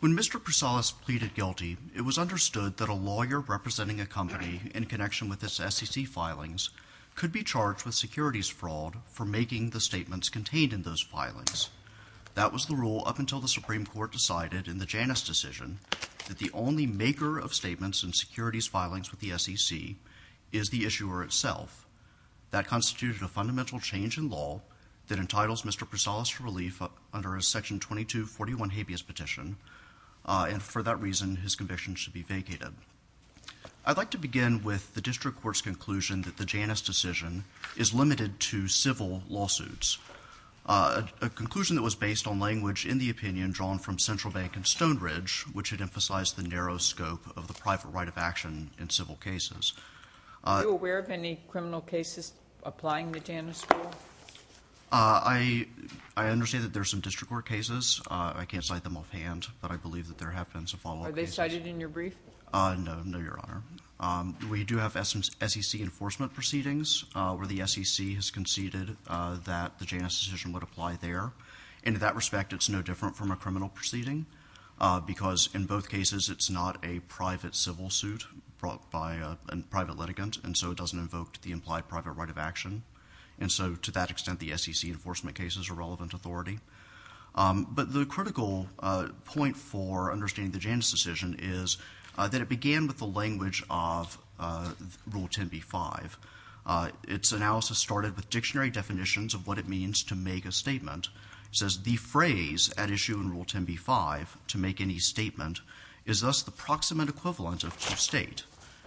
When Mr. Prousalis pleaded guilty, it was understood that a lawyer representing a company in connection with its SEC filings could be charged with securities fraud for making the statements contained in those filings. That was the rule up until the Supreme Court decided in the Janus decision that the only maker of statements in securities filings with the SEC is the issuer itself. That constituted a fundamental change in law that entitles Mr. Prousalis to relief under a Section 2241 habeas petition, and for that reason his conviction should be vacated. I'd like to begin with the District Court's conclusion that the Janus decision is limited to civil lawsuits. A conclusion that was based on language in the opinion drawn from Central Bank and Stone Ridge, which had emphasized the narrow scope of the private right of action in civil cases. Are you aware of any criminal cases applying the Janus rule? I understand that there are some District Court cases. I can't cite them offhand, but I believe that there have been some follow-up cases. Are they cited in your brief? No, no, Your Honor. We do have SEC enforcement proceedings where the SEC has conceded that the Janus decision would apply there. And in that respect, it's no different from a criminal proceeding because in both cases it's not a private civil suit brought by a private litigant, and so it doesn't invoke the implied private right of action. And so to that extent, the SEC enforcement case is a relevant authority. But the critical point for understanding the Janus decision is that it began with the language of Rule 10b-5. Its analysis started with dictionary definitions of what it means to make a statement. It says, the phrase at issue in Rule 10b-5, to make any statement, is thus the proximate equivalent of to state.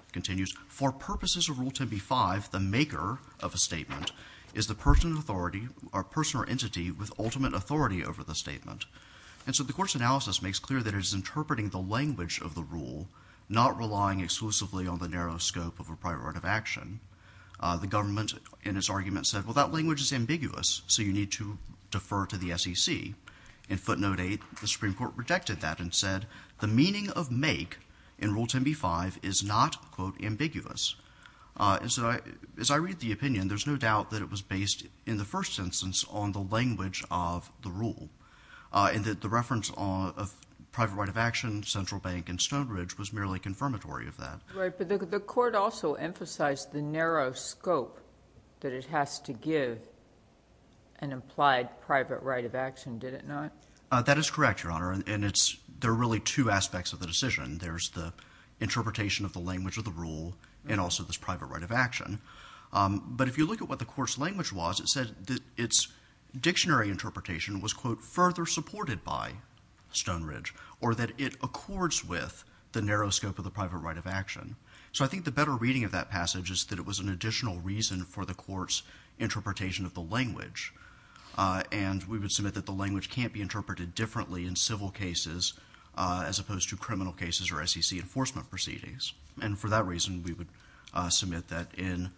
It continues, for purposes of Rule 10b-5, the maker of a statement is the person or entity with ultimate authority over the statement. And so the Court's analysis makes clear that it is interpreting the language of the rule, not relying exclusively on the narrow scope of a private right of action. The government, in its argument, said, well, that language is ambiguous, so you need to defer to the SEC. In footnote 8, the Supreme Court rejected that and said, the meaning of make in Rule 10b-5 is not, quote, ambiguous. And so as I read the opinion, there's no doubt that it was based in the first instance on the language of the rule, and that the reference of private right of action, Central Bank, and Stonebridge was merely confirmatory of that. Right, but the Court also emphasized the narrow scope that it has to give an implied private right of action, did it not? That is correct, Your Honor, and there are really two aspects of the decision. There's the interpretation of the language of the rule and also this private right of action. But if you look at what the Court's language was, it said that its dictionary interpretation was, quote, further supported by Stonebridge, or that it accords with the narrow scope of the private right of action. So I think the better reading of that passage is that it was an additional reason for the Court's interpretation of the language. And we would submit that the language can't be interpreted differently in civil cases as opposed to criminal cases or SEC enforcement proceedings. And for that reason, we would submit that in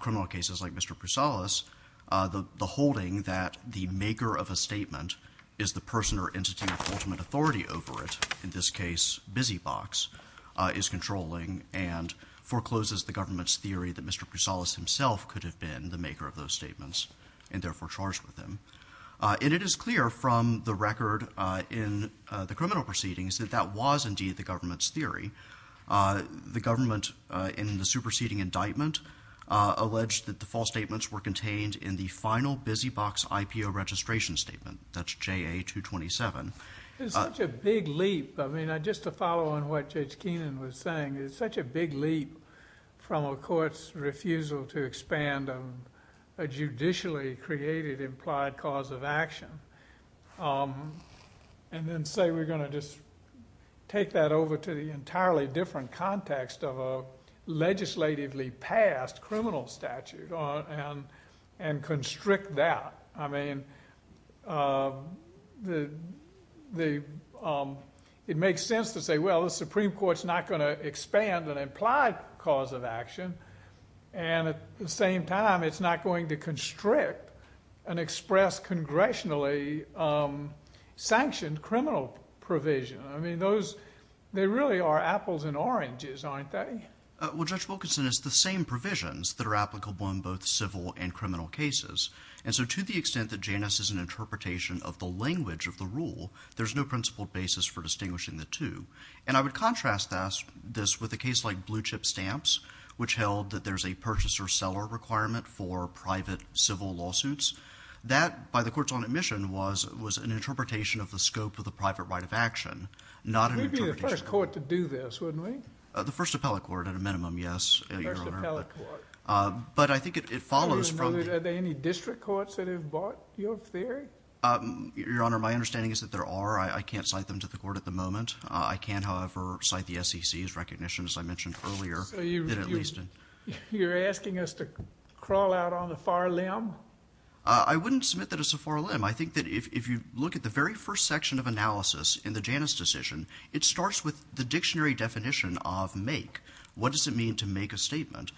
criminal cases like Mr. Prusalis, the holding that the maker of a statement is the person or entity with ultimate authority over it, in this case Busy Box, is controlling and forecloses the government's theory that Mr. Prusalis himself could have been the maker of those statements and therefore charged with them. And it is clear from the record in the criminal proceedings that that was indeed the government's theory. The government, in the superseding indictment, alleged that the false statements were contained in the final Busy Box IPO registration statement, that's JA-227. It's such a big leap, I mean, just to follow on what Judge Keenan was saying, it's such a big leap from a Court's refusal to expand on a judicially created implied cause of action. And then say we're going to just take that over to the entirely different context of a legislatively passed criminal statute and constrict that. I mean, it makes sense to say, well, the Supreme Court's not going to expand an implied cause of action. And at the same time, it's not going to constrict an expressed congressionally sanctioned criminal provision. I mean, those, they really are apples and oranges, aren't they? Well, Judge Wilkinson, it's the same provisions that are applicable in both civil and criminal cases. And so to the extent that Janus is an interpretation of the language of the rule, there's no principled basis for distinguishing the two. And I would contrast this with a case like Blue Chip Stamps, which held that there's a purchaser-seller requirement for private civil lawsuits. That by the Court's own admission was an interpretation of the scope of the private right of action, not an interpretation. We'd be the first Court to do this, wouldn't we? The first appellate Court, at a minimum, yes, Your Honor. But I think it follows from the- Are there any district courts that have bought your theory? Your Honor, my understanding is that there are. I can't cite them to the Court at the moment. I can, however, cite the SEC's recognition, as I mentioned earlier, that at least- You're asking us to crawl out on a far limb? I wouldn't submit that it's a far limb. I think that if you look at the very first section of analysis in the Janus decision, it starts with the dictionary definition of make. What does it mean to make a statement?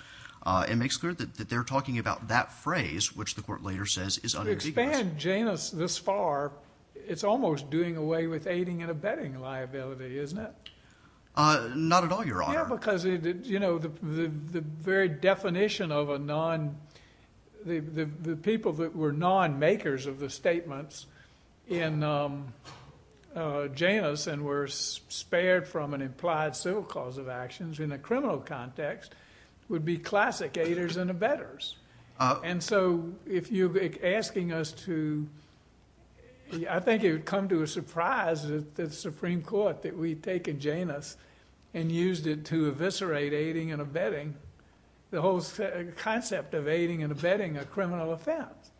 It makes clear that they're talking about that phrase, which the Court later says is unambiguous. To expand Janus this far, it's almost doing away with aiding and abetting liability, isn't it? Not at all, Your Honor. Yeah, because the very definition of a non... The people that were non-makers of the statements in Janus and were spared from an implied civil cause of actions in a criminal context would be classic aiders and abetters. And so, if you're asking us to... I think it would come to a surprise that the Supreme Court, that we'd taken Janus and used it to eviscerate aiding and abetting, the whole concept of aiding and abetting a criminal offense.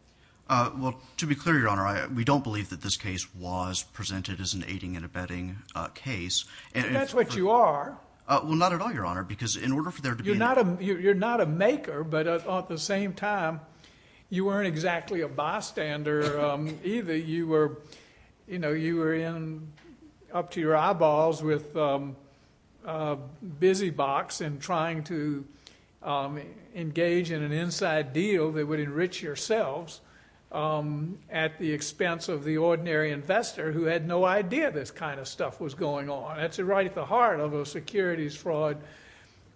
Well, to be clear, Your Honor, we don't believe that this case was presented as an aiding and abetting case. But that's what you are. Well, not at all, Your Honor, because in order for there to be- You're not a maker, but at the same time, you weren't exactly a bystander either. You were up to your eyeballs with a busy box and trying to engage in an inside deal that would enrich yourselves at the expense of the ordinary investor who had no idea this kind of stuff was going on. That's right at the heart of a securities fraud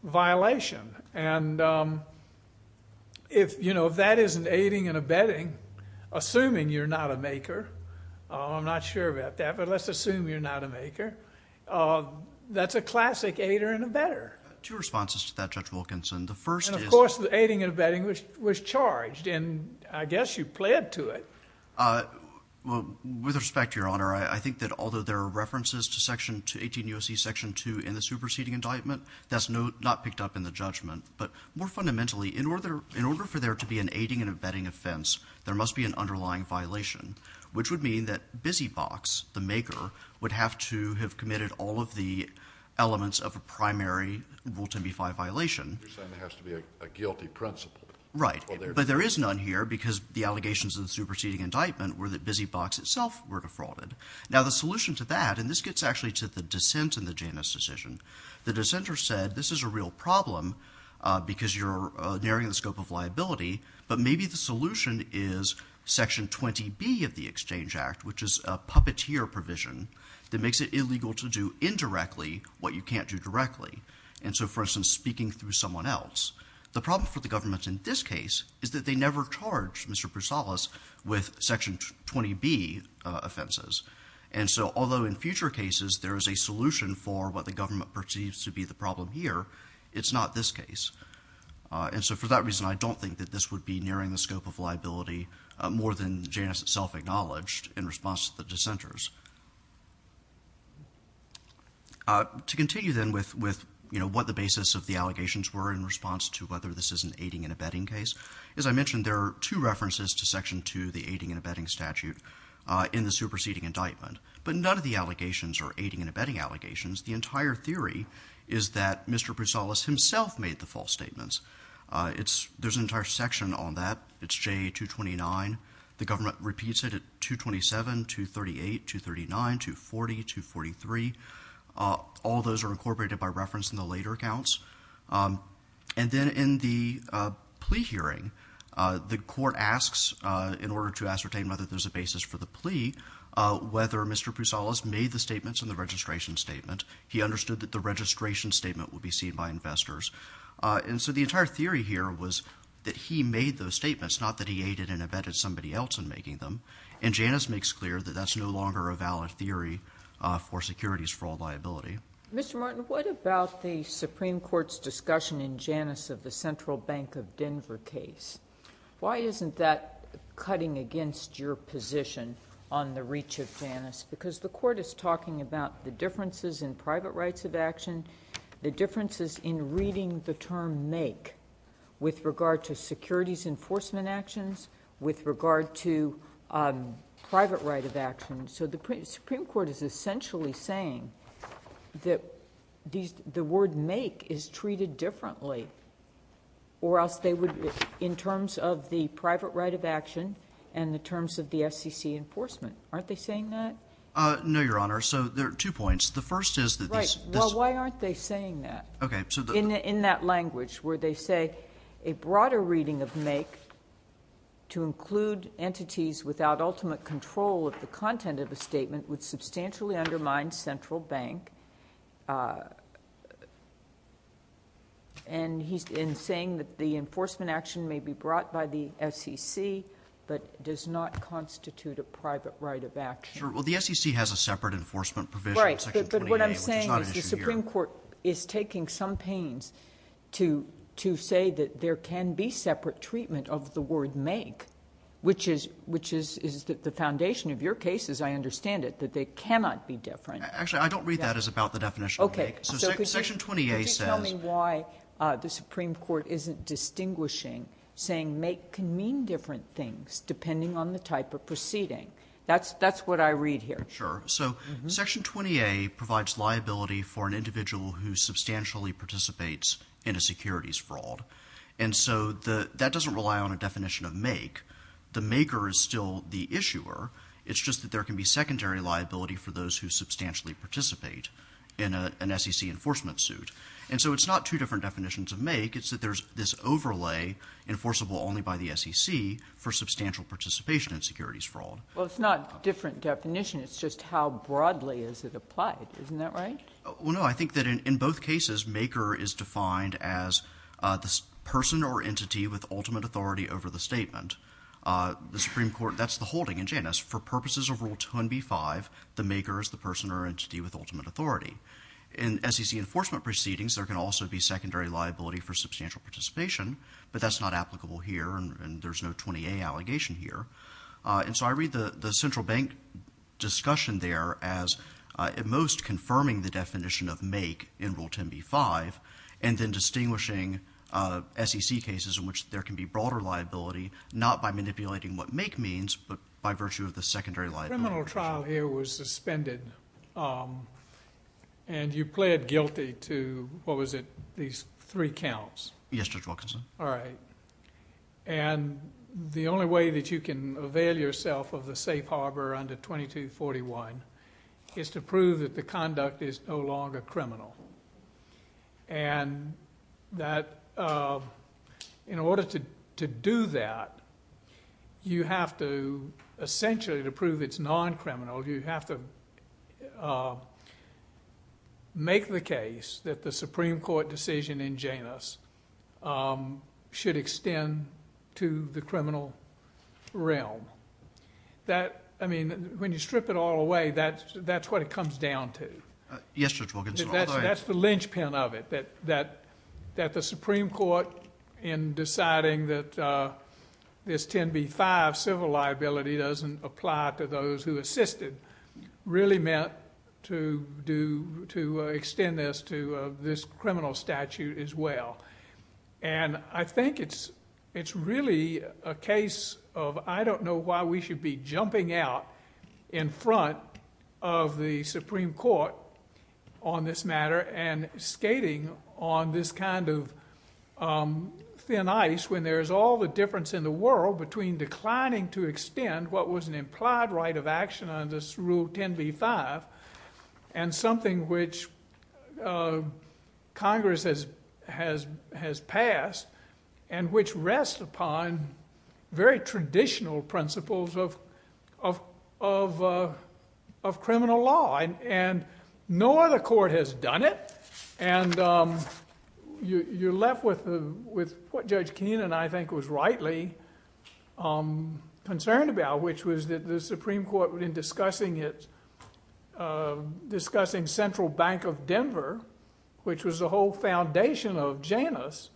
violation. And if that isn't aiding and abetting, assuming you're not a maker, I'm not sure about that, but let's assume you're not a maker, that's a classic aider and abetter. Two responses to that, Judge Wilkinson. The first is- And of course, the aiding and abetting was charged, and I guess you pled to it. Well, with respect, Your Honor, I think that although there are references to 18 U.S.C. Section 2 in the superseding indictment, that's not picked up in the judgment. But more fundamentally, in order for there to be an aiding and abetting offense, there must be an underlying violation, which would mean that busy box, the maker, would have to have committed all of the elements of a primary Rule 10b-5 violation. You're saying there has to be a guilty principle. Right. But there is none here because the allegations of the superseding indictment were that busy box itself were defrauded. Now the solution to that, and this gets actually to the dissent in the Janus decision. The dissenter said this is a real problem because you're narrowing the scope of liability, but maybe the solution is Section 20b of the Exchange Act, which is a puppeteer provision that makes it illegal to do indirectly what you can't do directly. And so, for instance, speaking through someone else. The problem for the government in this case is that they never charged Mr. Broussalas with Section 20b offenses. And so although in future cases there is a solution for what the government perceives to be the problem here, it's not this case. And so for that reason, I don't think that this would be nearing the scope of liability more than Janus itself acknowledged in response to the dissenters. To continue then with what the basis of the allegations were in response to whether this is an aiding and abetting case, as I mentioned there are two references to Section 2, the aiding and abetting statute, in the superseding indictment. But none of the allegations are aiding and abetting allegations. The entire theory is that Mr. Broussalas himself made the false statements. There's an entire section on that. It's JA 229. The government repeats it at 227, 238, 239, 240, 243. All those are incorporated by reference in the later accounts. And then in the plea hearing, the court asks, in order to ascertain whether there's a basis for the plea, whether Mr. Broussalas made the statements in the registration statement. He understood that the registration statement would be seen by investors. And so the entire theory here was that he made those statements, not that he aided and abetting somebody else in making them. And Janus makes clear that that's no longer a valid theory for securities fraud liability. Mr. Martin, what about the Supreme Court's discussion in Janus of the Central Bank of Denver case? Why isn't that cutting against your position on the reach of Janus? Because the court is talking about the differences in private rights of action, the differences in reading the term make with regard to securities enforcement actions, with regard to private right of action. So the Supreme Court is essentially saying that the word make is treated differently or else they would, in terms of the private right of action and the terms of the FCC enforcement. Aren't they saying that? No, Your Honor. So there are two points. The first is that these- Right. Well, why aren't they saying that? Okay. So the- In that language where they say a broader reading of make to include entities without ultimate control of the content of a statement would substantially undermine central bank. And he's saying that the enforcement action may be brought by the SEC but does not constitute a private right of action. Sure. Well, the SEC has a separate enforcement provision in Section 20A, which is not an issue. But the Supreme Court is taking some pains to say that there can be separate treatment of the word make, which is the foundation of your case, as I understand it, that they cannot be different. Actually, I don't read that as about the definition of make. Okay. So Section 20A says- Could you tell me why the Supreme Court isn't distinguishing, saying make can mean different things depending on the type of proceeding? That's what I read here. Sure. So Section 20A provides liability for an individual who substantially participates in a securities fraud. And so that doesn't rely on a definition of make. The maker is still the issuer. It's just that there can be secondary liability for those who substantially participate in an SEC enforcement suit. And so it's not two different definitions of make. It's that there's this overlay enforceable only by the SEC for substantial participation in securities fraud. Well, it's not a different definition. It's just how broadly is it applied. Isn't that right? Well, no. I think that in both cases, maker is defined as the person or entity with ultimate authority over the statement. The Supreme Court, that's the holding in Janus. For purposes of Rule 20B-5, the maker is the person or entity with ultimate authority. In SEC enforcement proceedings, there can also be secondary liability for substantial participation, but that's not applicable here, and there's no 20A allegation here. And so I read the Central Bank discussion there as at most confirming the definition of make in Rule 10B-5, and then distinguishing SEC cases in which there can be broader liability, not by manipulating what make means, but by virtue of the secondary liability. Criminal trial here was suspended, and you pled guilty to, what was it, these three counts? All right. And the only way that you can avail yourself of the safe harbor under 2241 is to prove that the conduct is no longer criminal. And in order to do that, you have to essentially, to prove it's non-criminal, you have to make the case that the Supreme Court decision in Janus should extend to the criminal realm. That, I mean, when you strip it all away, that's what it comes down to. Yes, Judge Wilkinson. Although I... That's the linchpin of it, that the Supreme Court, in deciding that this 10B-5 civil liability doesn't apply to those who assisted, really meant to extend this to this criminal statute as well. And I think it's really a case of, I don't know why we should be jumping out in front of the Supreme Court on this matter, and skating on this kind of thin ice, when there's all the difference in the world between declining to extend what was an implied right of action under Rule 10B-5, and something which Congress has passed, and which rests upon very traditional principles of criminal law. And no other court has done it, and you're left with what Judge Keenan and I think was rightly concerned about, which was that the Supreme Court, in discussing Central Bank of Denver, which was the whole foundation of Janus,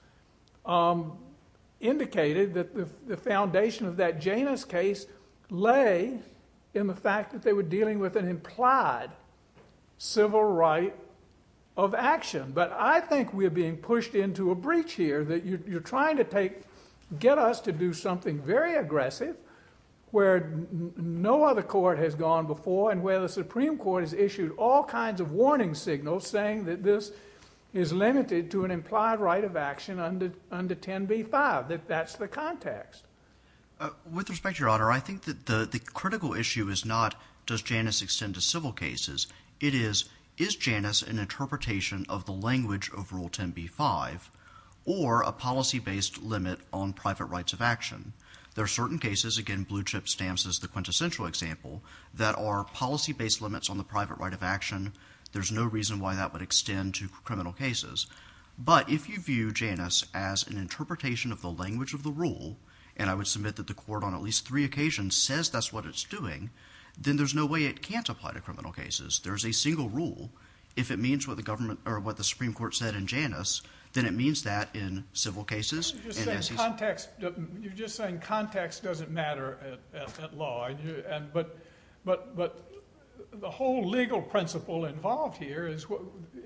indicated that the foundation of that Janus case lay in the fact that they were dealing with an implied civil right of action. But I think we're being pushed into a breach here, that you're trying to get us to do something very aggressive, where no other court has gone before, and where the Supreme Court has issued all kinds of warning signals, saying that this is limited to an implied right of action under 10B-5. That's the context. With respect, Your Honor, I think that the critical issue is not, does Janus extend to language of Rule 10B-5, or a policy-based limit on private rights of action. There are certain cases, again Blue Chip stamps as the quintessential example, that are policy-based limits on the private right of action. There's no reason why that would extend to criminal cases. But if you view Janus as an interpretation of the language of the rule, and I would submit that the court on at least three occasions says that's what it's doing, then there's no way it can't apply to criminal cases. There's a single rule. If it means what the government, or what the Supreme Court said in Janus, then it means that in civil cases. You're just saying context doesn't matter at law. But the whole legal principle involved here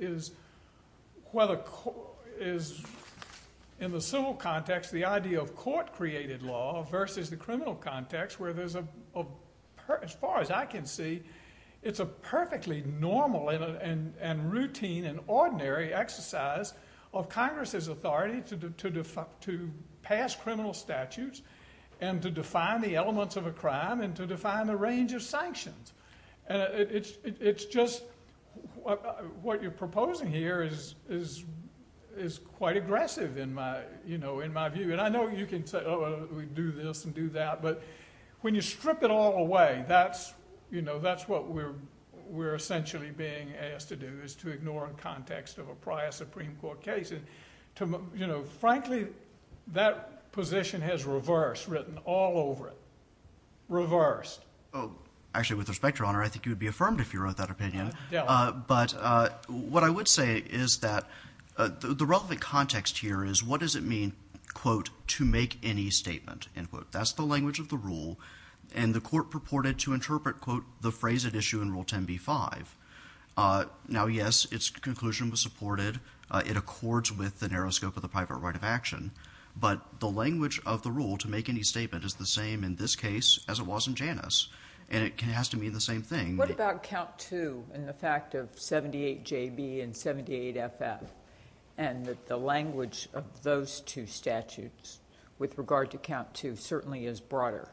is whether, in the civil context, the idea of court-created law versus the criminal context, where there's a, as far as I can see, it's a perfectly normal and routine and ordinary exercise of Congress's authority to pass criminal statutes, and to define the elements of a crime, and to define the range of sanctions. It's just what you're proposing here is quite aggressive, in my view. I know you can say, oh, we do this and do that, but when you strip it all away, that's what we're essentially being asked to do, is to ignore the context of a prior Supreme Court case. Frankly, that position has reversed, written all over it. Reversed. Actually, with respect, Your Honor, I think you would be affirmed if you wrote that opinion. But what I would say is that the relevant context here is what does it mean, quote, to make any statement, end quote. That's the language of the rule, and the court purported to interpret, quote, the phrase at issue in Rule 10b-5. Now, yes, its conclusion was supported. It accords with the narrow scope of the private right of action, but the language of the rule to make any statement is the same in this case as it was in Janus, and it has to mean the same thing. What about count two, and the fact of 78JB and 78FF, and that the language of those two statutes, with regard to count two, certainly is broader.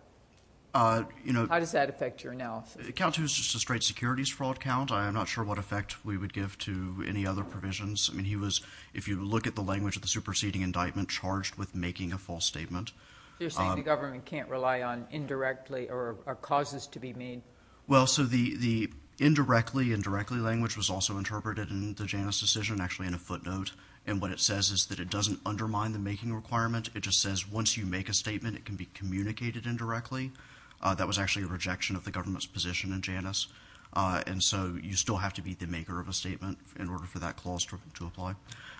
How does that affect your analysis? Count two is just a straight securities fraud count. I'm not sure what effect we would give to any other provisions. I mean, he was, if you look at the language of the superseding indictment, charged with making a false statement. So you're saying the government can't rely on indirectly, or causes to be made? Well, so the indirectly, indirectly language was also interpreted in the Janus decision, and actually in a footnote, and what it says is that it doesn't undermine the making requirement. It just says once you make a statement, it can be communicated indirectly. That was actually a rejection of the government's position in Janus, and so you still have to be the maker of a statement in order for that clause to apply.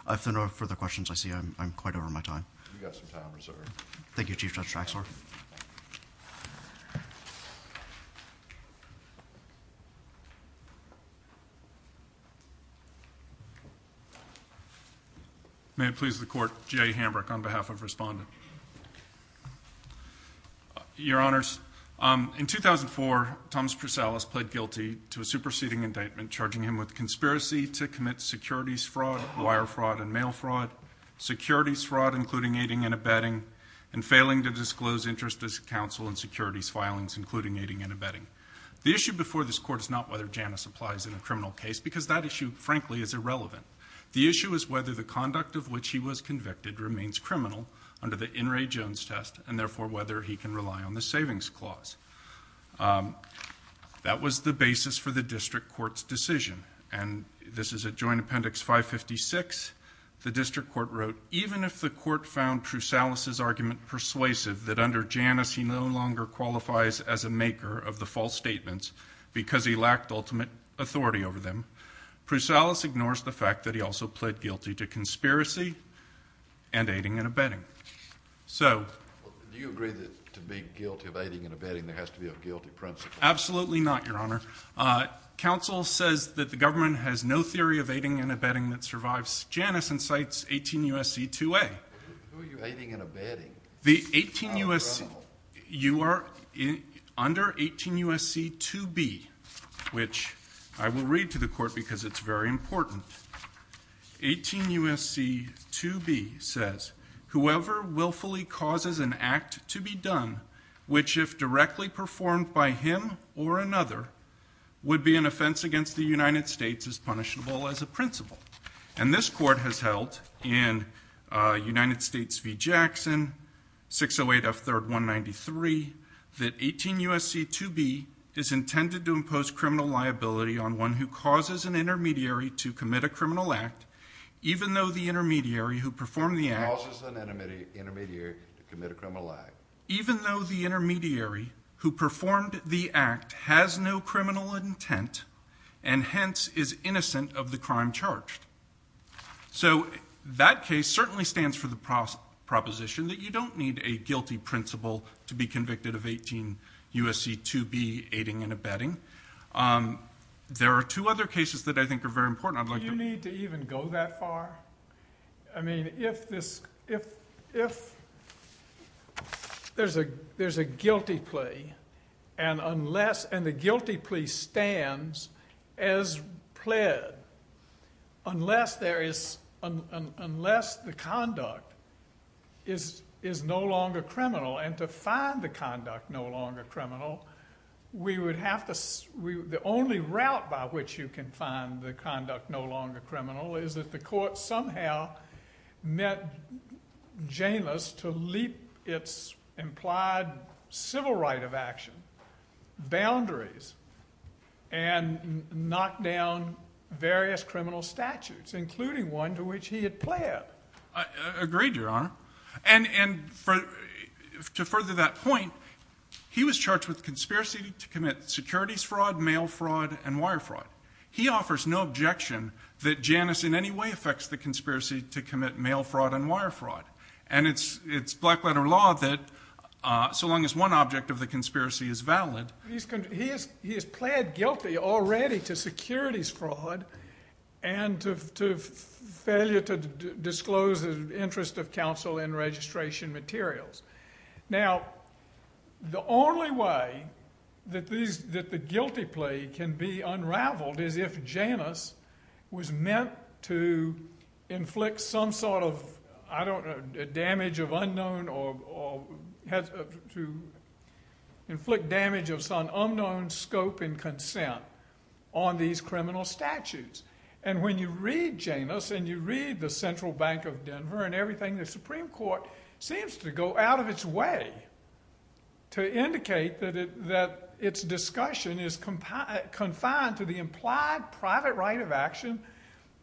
If there are no further questions, I see I'm quite over my time. You've got some time reserved. Thank you, Chief Judge Draxler. May it please the Court, Jay Hambrick on behalf of Respondent. Your Honors, in 2004, Thomas Presalis pled guilty to a superseding indictment, charging him with conspiracy to commit securities fraud, wire fraud, and mail fraud, securities fraud including aiding and abetting, and failing to disclose interest as counsel in securities filings including aiding and abetting. The issue before this Court is not whether Janus applies in a criminal case, because that issue, frankly, is irrelevant. The issue is whether the conduct of which he was convicted remains criminal under the In re Jones test, and therefore, whether he can rely on the savings clause. That was the basis for the District Court's decision, and this is at Joint Appendix 556. The District Court wrote, even if the Court found Presalis's argument persuasive that under Janus, he no longer qualifies as a maker of the false statements because he lacked ultimate authority over them, Presalis ignores the fact that he also pled guilty to conspiracy and aiding and abetting. Do you agree that to be guilty of aiding and abetting, there has to be a guilty principle? Absolutely not, Your Honor. Counsel says that the government has no theory of aiding and abetting that survives Janus and cites 18 U.S.C. 2A. Who are you aiding and abetting? The 18 U.S.C. You are under 18 U.S.C. 2B, which I will read to the Court because it's very important. 18 U.S.C. 2B says, whoever willfully causes an act to be done, which if directly performed by him or another, would be an offense against the United States as punishable as a principle. And this Court has held in United States v. Jackson, 608 F. 3rd, 193, that 18 U.S.C. 2B is intended to impose criminal liability on one who causes an intermediary to commit a criminal act, even though the intermediary who performed the act has no criminal intent and hence is innocent of the crime charged. So that case certainly stands for the proposition that you don't need a guilty principle to be convicted of 18 U.S.C. 2B, aiding and abetting. There are two other cases that I think are very important. Do you need to even go that far? I mean, if there's a guilty plea and the guilty plea stands as pled, unless the conduct is no longer criminal and to find the conduct no longer criminal, the only route by which you can find the conduct no longer criminal is if the Court somehow met Janus to leap its implied civil right of action, boundaries, and knock down various criminal statutes, including one to which he had pled. Agreed, Your Honor. And to further that point, he was charged with conspiracy to commit securities fraud, mail fraud, and wire fraud. He offers no objection that Janus in any way affects the conspiracy to commit mail fraud and wire fraud. And it's black-letter law that so long as one object of the conspiracy is valid. He has pled guilty already to securities fraud and to failure to disclose the interest of counsel in registration materials. Now, the only way that the guilty plea can be unraveled is if Janus was meant to inflict some sort of, I don't know, damage of unknown or to inflict damage of some unknown scope and consent on these criminal statutes. And when you read Janus and you read the Central Bank of Denver and everything, the Supreme Court went out of its way to indicate that its discussion is confined to the implied private right of action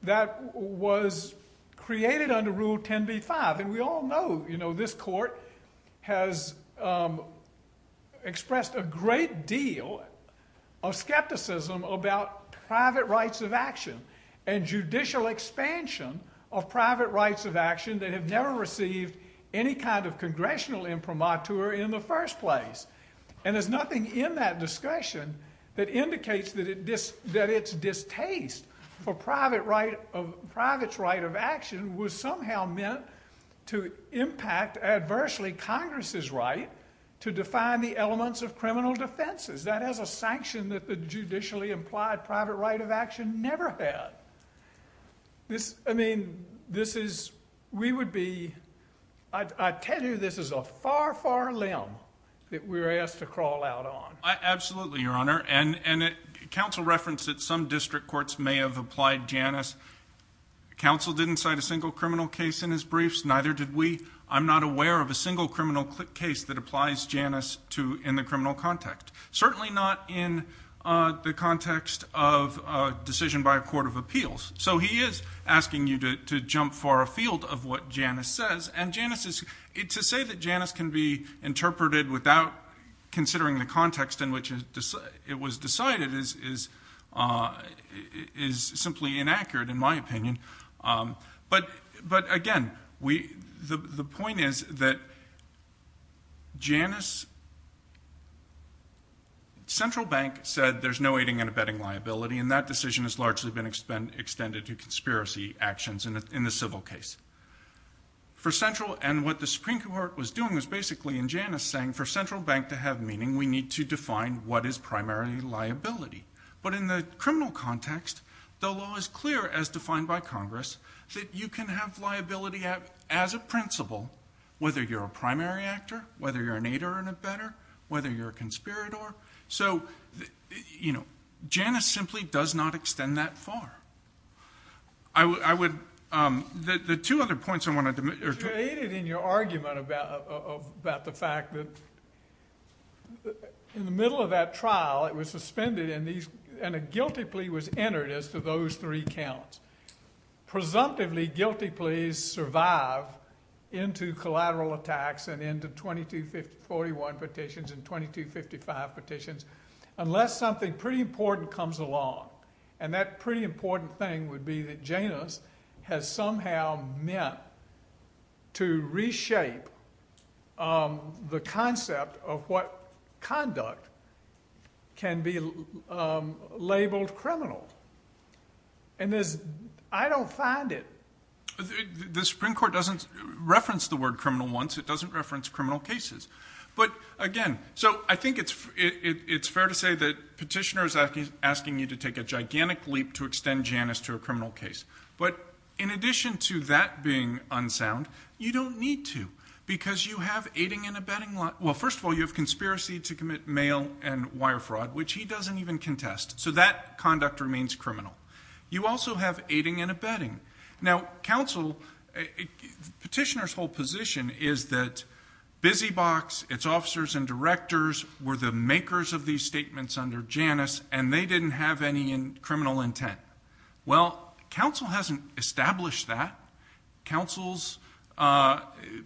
that was created under Rule 10b-5. And we all know, you know, this Court has expressed a great deal of skepticism about private rights of action and judicial expansion of private rights of action that have never received any kind of congressional imprimatur in the first place. And there's nothing in that discussion that indicates that its distaste for private's right of action was somehow meant to impact adversely Congress's right to define the elements of criminal defenses. That has a sanction that the judicially implied private right of action never had. This, I mean, this is, we would be, I tell you this is a far, far limb that we're asked to crawl out on. Absolutely, Your Honor. And counsel referenced that some district courts may have applied Janus. Counsel didn't cite a single criminal case in his briefs, neither did we. I'm not aware of a single criminal case that applies Janus to, in the criminal context. Certainly not in the context of a decision by a court of appeals. So he is asking you to jump for a field of what Janus says. And Janus is, to say that Janus can be interpreted without considering the context in which it was decided is simply inaccurate, in my opinion. But, again, the point is that Janus, Central Bank said there's no aiding and abetting liability and that decision has largely been extended to conspiracy actions in the civil case. For Central, and what the Supreme Court was doing was basically in Janus saying for Central Bank to have meaning, we need to define what is primary liability. But in the criminal context, the law is clear, as defined by Congress, that you can have liability as a principle, whether you're a primary actor, whether you're an aider and abetter, whether you're a conspirator. So Janus simply does not extend that far. The two other points I wanted to make are- You made it in your argument about the fact that in the middle of that trial, it was suspended and a guilty plea was entered as to those three counts. Presumptively, guilty pleas survive into collateral attacks and into 2241 petitions and 2255 petitions unless something pretty important comes along. And that pretty important thing would be that Janus has somehow meant to reshape the concept of what conduct can be labeled criminal. And I don't find it- The Supreme Court doesn't reference the word criminal once. It doesn't reference criminal cases. But again, so I think it's fair to say that petitioner is asking you to take a gigantic leap to extend Janus to a criminal case. But in addition to that being unsound, you don't need to, because you have aiding and abetting law. Well, first of all, you have conspiracy to commit mail and wire fraud, which he doesn't even contest. So that conduct remains criminal. You also have aiding and abetting. Now, counsel, petitioner's whole position is that Busy Box, its officers and directors, were the makers of these statements under Janus and they didn't have any criminal intent. Well, counsel hasn't established that. Counsel's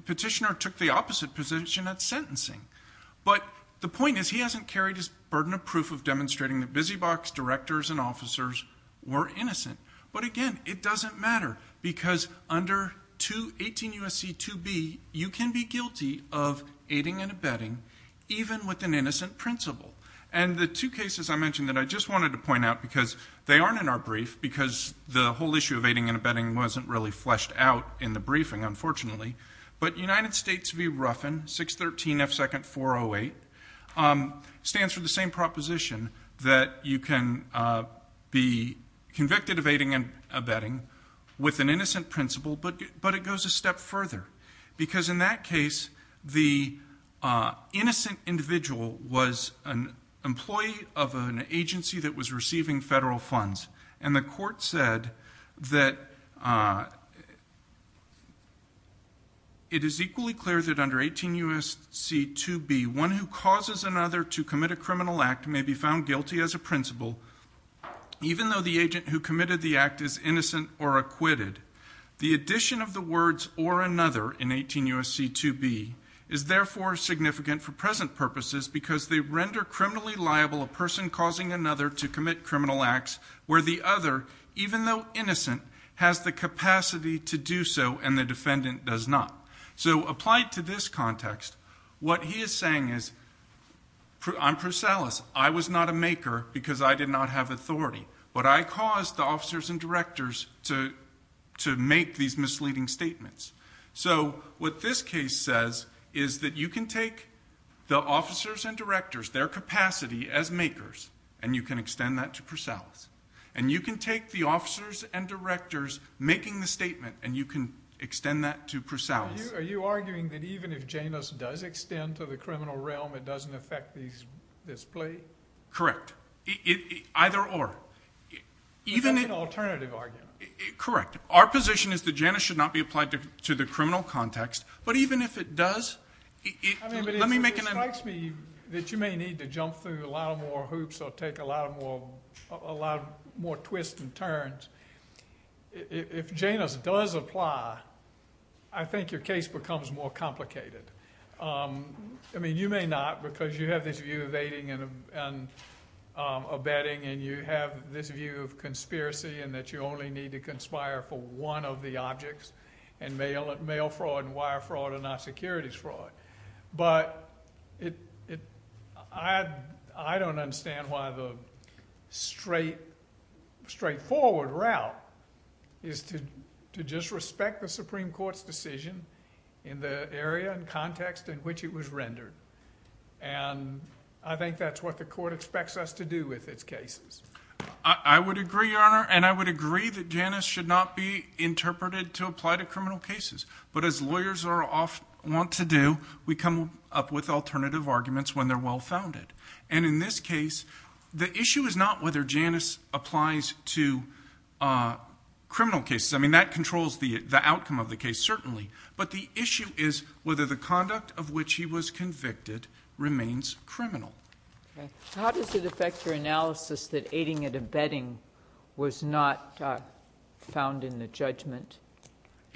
petitioner took the opposite position at sentencing. But the point is he hasn't carried his burden of proof of demonstrating that Busy Box directors and officers were innocent. But again, it doesn't matter, because under 18 U.S.C. 2B, you can be guilty of aiding and abetting even with an innocent principle. And the two cases I mentioned that I just wanted to point out, because they aren't in our brief, because the whole issue of aiding and abetting wasn't really fleshed out in the briefing, unfortunately. But United States v. Ruffin, 613 F2nd 408 stands for the same proposition that you can be convicted of aiding and abetting with an innocent principle, but it goes a step further. Because in that case, the innocent individual was an employee of an agency that was receiving federal funds. And the court said that it is equally clear that under 18 U.S.C. 2B, one who causes another to commit a criminal act may be found guilty as a principle, even though the agent who committed the act is innocent or acquitted. The addition of the words or another in 18 U.S.C. 2B is therefore significant for present purposes because they render criminally liable a person causing another to commit criminal acts. Where the other, even though innocent, has the capacity to do so and the defendant does not. So applied to this context, what he is saying is, I'm Prisales. I was not a maker because I did not have authority. But I caused the officers and directors to make these misleading statements. So what this case says is that you can take the officers and directors, their capacity as makers, and you can extend that to Prisales. And you can take the officers and directors making the statement, and you can extend that to Prisales. Are you arguing that even if Janus does extend to the criminal realm, it doesn't affect this plea? Correct. Either or. Even if- That's an alternative argument. Correct. Our position is that Janus should not be applied to the criminal context. But even if it does, let me make an- It strikes me that you may need to jump through a lot more hoops or take a lot more twists and turns. If Janus does apply, I think your case becomes more complicated. I mean, you may not, because you have this view of aiding and abetting, and you have this view of conspiracy, and that you only need to conspire for one of the objects, and mail fraud and wire fraud are not securities fraud. But, I don't understand why the straight, straightforward route is to just respect the Supreme Court's decision. In the area and context in which it was rendered. And I think that's what the court expects us to do with its cases. I would agree, Your Honor, and I would agree that Janus should not be interpreted to apply to criminal cases. But as lawyers are often, want to do, we come up with alternative arguments when they're well founded. And in this case, the issue is not whether Janus applies to criminal cases. I mean, that controls the outcome of the case, certainly. But the issue is whether the conduct of which he was convicted remains criminal. How does it affect your analysis that aiding and abetting was not found in the judgment?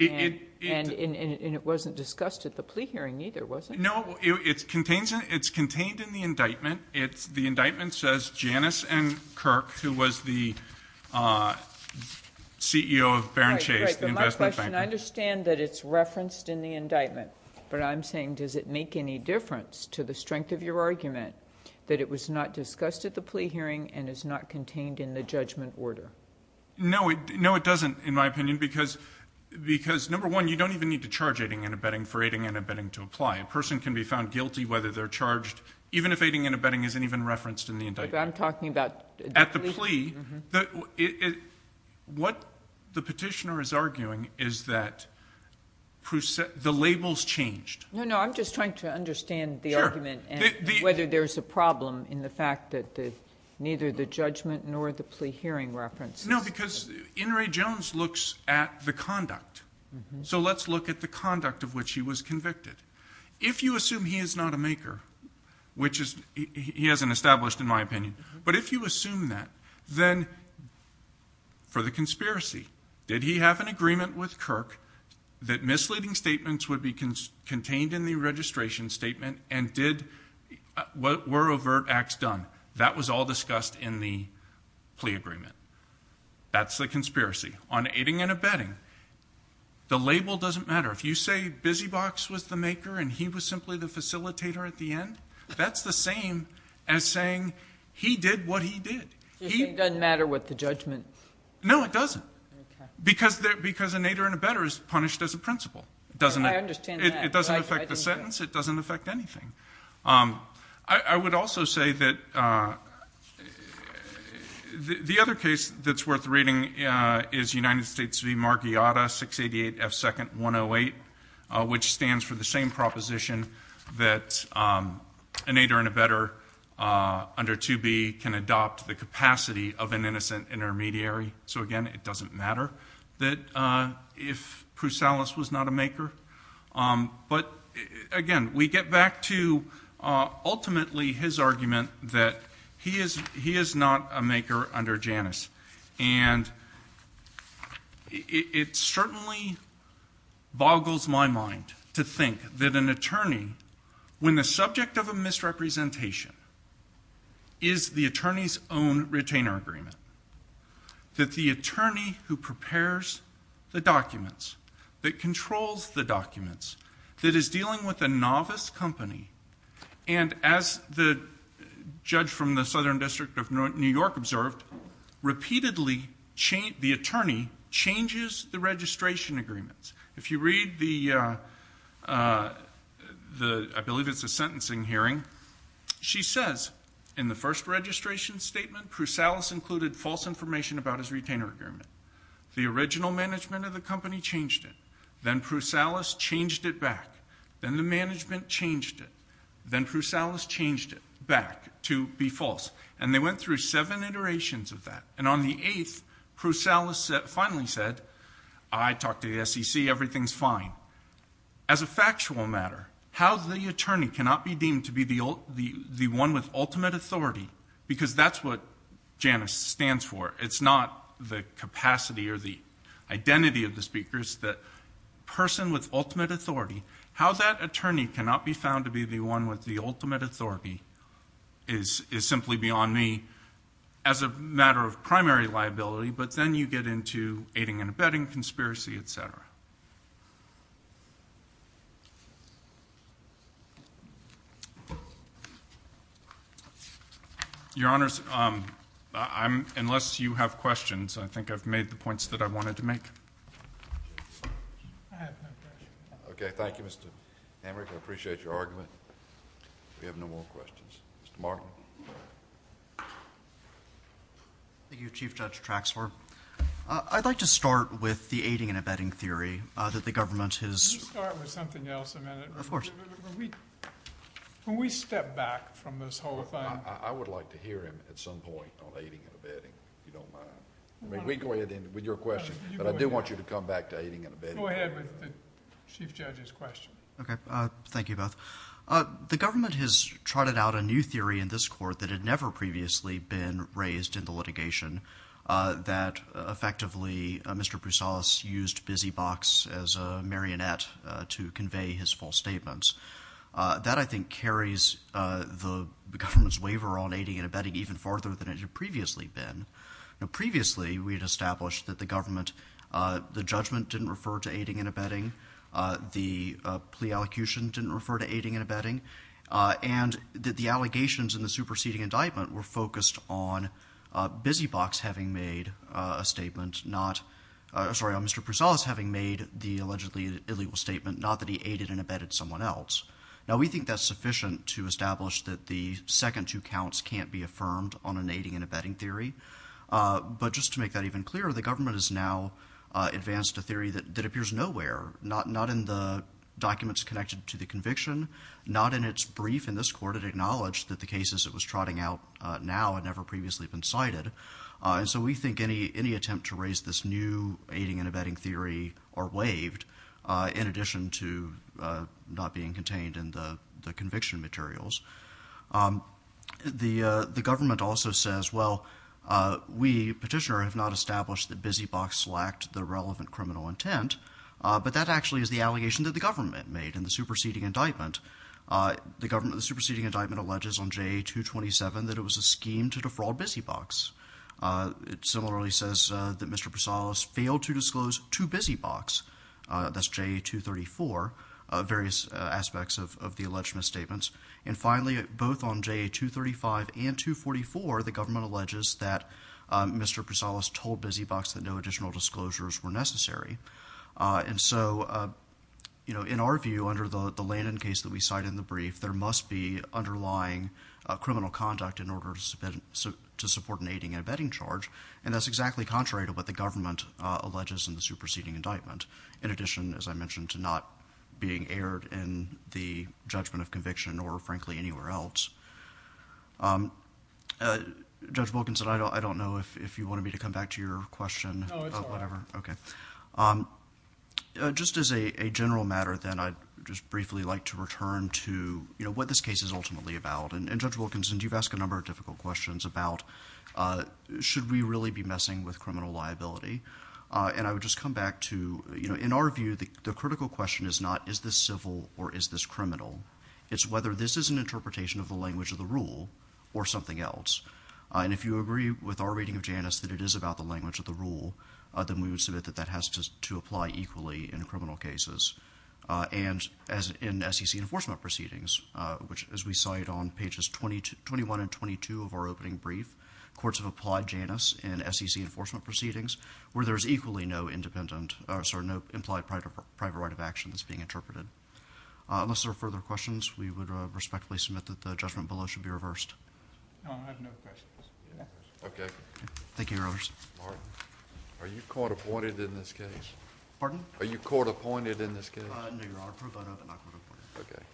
And it wasn't discussed at the plea hearing either, was it? No, it's contained in the indictment. It's the indictment says Janus and Kirk, who was the CEO of Baron Chase, the investment bank. Right, right, but my question, I understand that it's referenced in the indictment. But I'm saying, does it make any difference to the strength of your argument that it was not discussed at the plea hearing and is not contained in the judgment order? No, it doesn't, in my opinion, because number one, you don't even need to charge aiding and abetting for aiding and abetting to apply. A person can be found guilty whether they're charged, even if aiding and abetting isn't even referenced in the indictment. But I'm talking about- At the plea, what the petitioner is arguing is that the labels changed. No, no, I'm just trying to understand the argument and whether there's a problem in the fact that neither the judgment nor the plea hearing references. No, because In re Jones looks at the conduct. So let's look at the conduct of which he was convicted. If you assume he is not a maker, which he hasn't established in my opinion. But if you assume that, then for the conspiracy, did he have an agreement with Kirk that misleading statements would be contained in the registration statement and were overt acts done? That was all discussed in the plea agreement. That's the conspiracy. On aiding and abetting, the label doesn't matter. If you say Busy Box was the maker and he was simply the facilitator at the end, that's the same as saying he did what he did. He- It doesn't matter what the judgment. No, it doesn't. Because an aider and abetter is punished as a principle. It doesn't- I understand that. It doesn't affect the sentence. It doesn't affect anything. I would also say that the other case that's worth reading is United States v. Margiotta, 688 F 2nd 108, which stands for the same proposition that an aider and abetter under 2B can adopt the capacity of an innocent intermediary. So again, it doesn't matter that if Prusalis was not a maker. But again, we get back to ultimately his argument that he is not a maker under Janus. And it certainly boggles my mind to think that an attorney, when the subject of a misrepresentation is the attorney's own retainer agreement. That the attorney who prepares the documents, that controls the documents, that is dealing with a novice company. And as the judge from the Southern District of New York observed, repeatedly the attorney changes the registration agreements. If you read the, I believe it's a sentencing hearing. She says, in the first registration statement, Prusalis included false information about his retainer agreement. The original management of the company changed it. Then Prusalis changed it back. Then the management changed it. Then Prusalis changed it back to be false. And they went through seven iterations of that. And on the eighth, Prusalis finally said, I talked to the SEC, everything's fine. As a factual matter, how the attorney cannot be deemed to be the one with ultimate authority, because that's what Janus stands for, it's not the capacity or the identity of the speakers, that person with ultimate authority. How that attorney cannot be found to be the one with the ultimate authority is simply beyond me as a matter of primary liability. But then you get into aiding and abetting, conspiracy, etc. Your Honors, unless you have questions, I think I've made the points that I wanted to make. Okay, thank you, Mr. Hamrick. I appreciate your argument. We have no more questions. Mr. Markman. Thank you, Chief Judge Traxler. I'd like to start with the aiding and abetting theory that the government has- Can you start with something else a minute? Of course. Can we step back from this whole thing? I would like to hear him at some point on aiding and abetting, if you don't mind. We can go ahead with your question, but I do want you to come back to aiding and abetting. Go ahead with the Chief Judge's question. Okay, thank you both. The government has trotted out a new theory in this court that had never previously been raised in the litigation that effectively Mr. Pousalis used Busy Box as a marionette to convey his false statements. That, I think, carries the government's waiver on aiding and abetting even farther than it had previously been. Previously, we had established that the government, the judgment didn't refer to aiding and abetting, the plea allocution didn't refer to aiding and abetting, and that the allegations in the case of Busy Box having made a statement not, sorry, Mr. Pousalis having made the allegedly illegal statement not that he aided and abetted someone else. Now, we think that's sufficient to establish that the second two counts can't be affirmed on an aiding and abetting theory. But just to make that even clearer, the government has now advanced a theory that appears nowhere, not in the documents connected to the conviction, not in its brief in this court. It acknowledged that the cases it was trotting out now had never previously been cited. And so we think any attempt to raise this new aiding and abetting theory are waived, in addition to not being contained in the conviction materials. The government also says, well, we, Petitioner, have not established that Busy Box lacked the relevant criminal intent, but that actually is the allegation that the government made in the superseding indictment. The government, the superseding indictment alleges on J. 227 that it was a scheme to defraud Busy Box. It similarly says that Mr. Prasadas failed to disclose to Busy Box, that's J. 234, various aspects of the alleged misstatements. And finally, both on J. 235 and 244, the government alleges that Mr. Prasadas told Busy Box that no additional disclosures were necessary. And so, you know, in our view, under the Landon case that we cite in the brief, there must be underlying criminal conduct in order to support an aiding and abetting charge, and that's exactly contrary to what the government alleges in the superseding indictment. In addition, as I mentioned, to not being aired in the judgment of conviction or, frankly, anywhere else. Judge Wilkinson, I don't know if you want me to come back to your question. No, it's all right. Okay. Um, just as a general matter, then I'd just briefly like to return to, you know, what this case is ultimately about. And Judge Wilkinson, you've asked a number of difficult questions about, should we really be messing with criminal liability? And I would just come back to, you know, in our view, the critical question is not, is this civil or is this criminal? It's whether this is an interpretation of the language of the rule or something else. And if you agree with our reading of Janus that it is about the language of the rule, then we would submit that that has to apply equally in criminal cases. And as in SEC enforcement proceedings, which, as we cite on pages 21 and 22 of our opening brief, courts have applied Janus in SEC enforcement proceedings where there is equally no independent, sorry, no implied private right of action that's being interpreted. Unless there are further questions, we would respectfully submit that the judgment below should be reversed. Okay. Thank you, Your Honors. Are you court appointed in this case? Pardon? Are you court appointed in this case? No, Your Honor. Okay.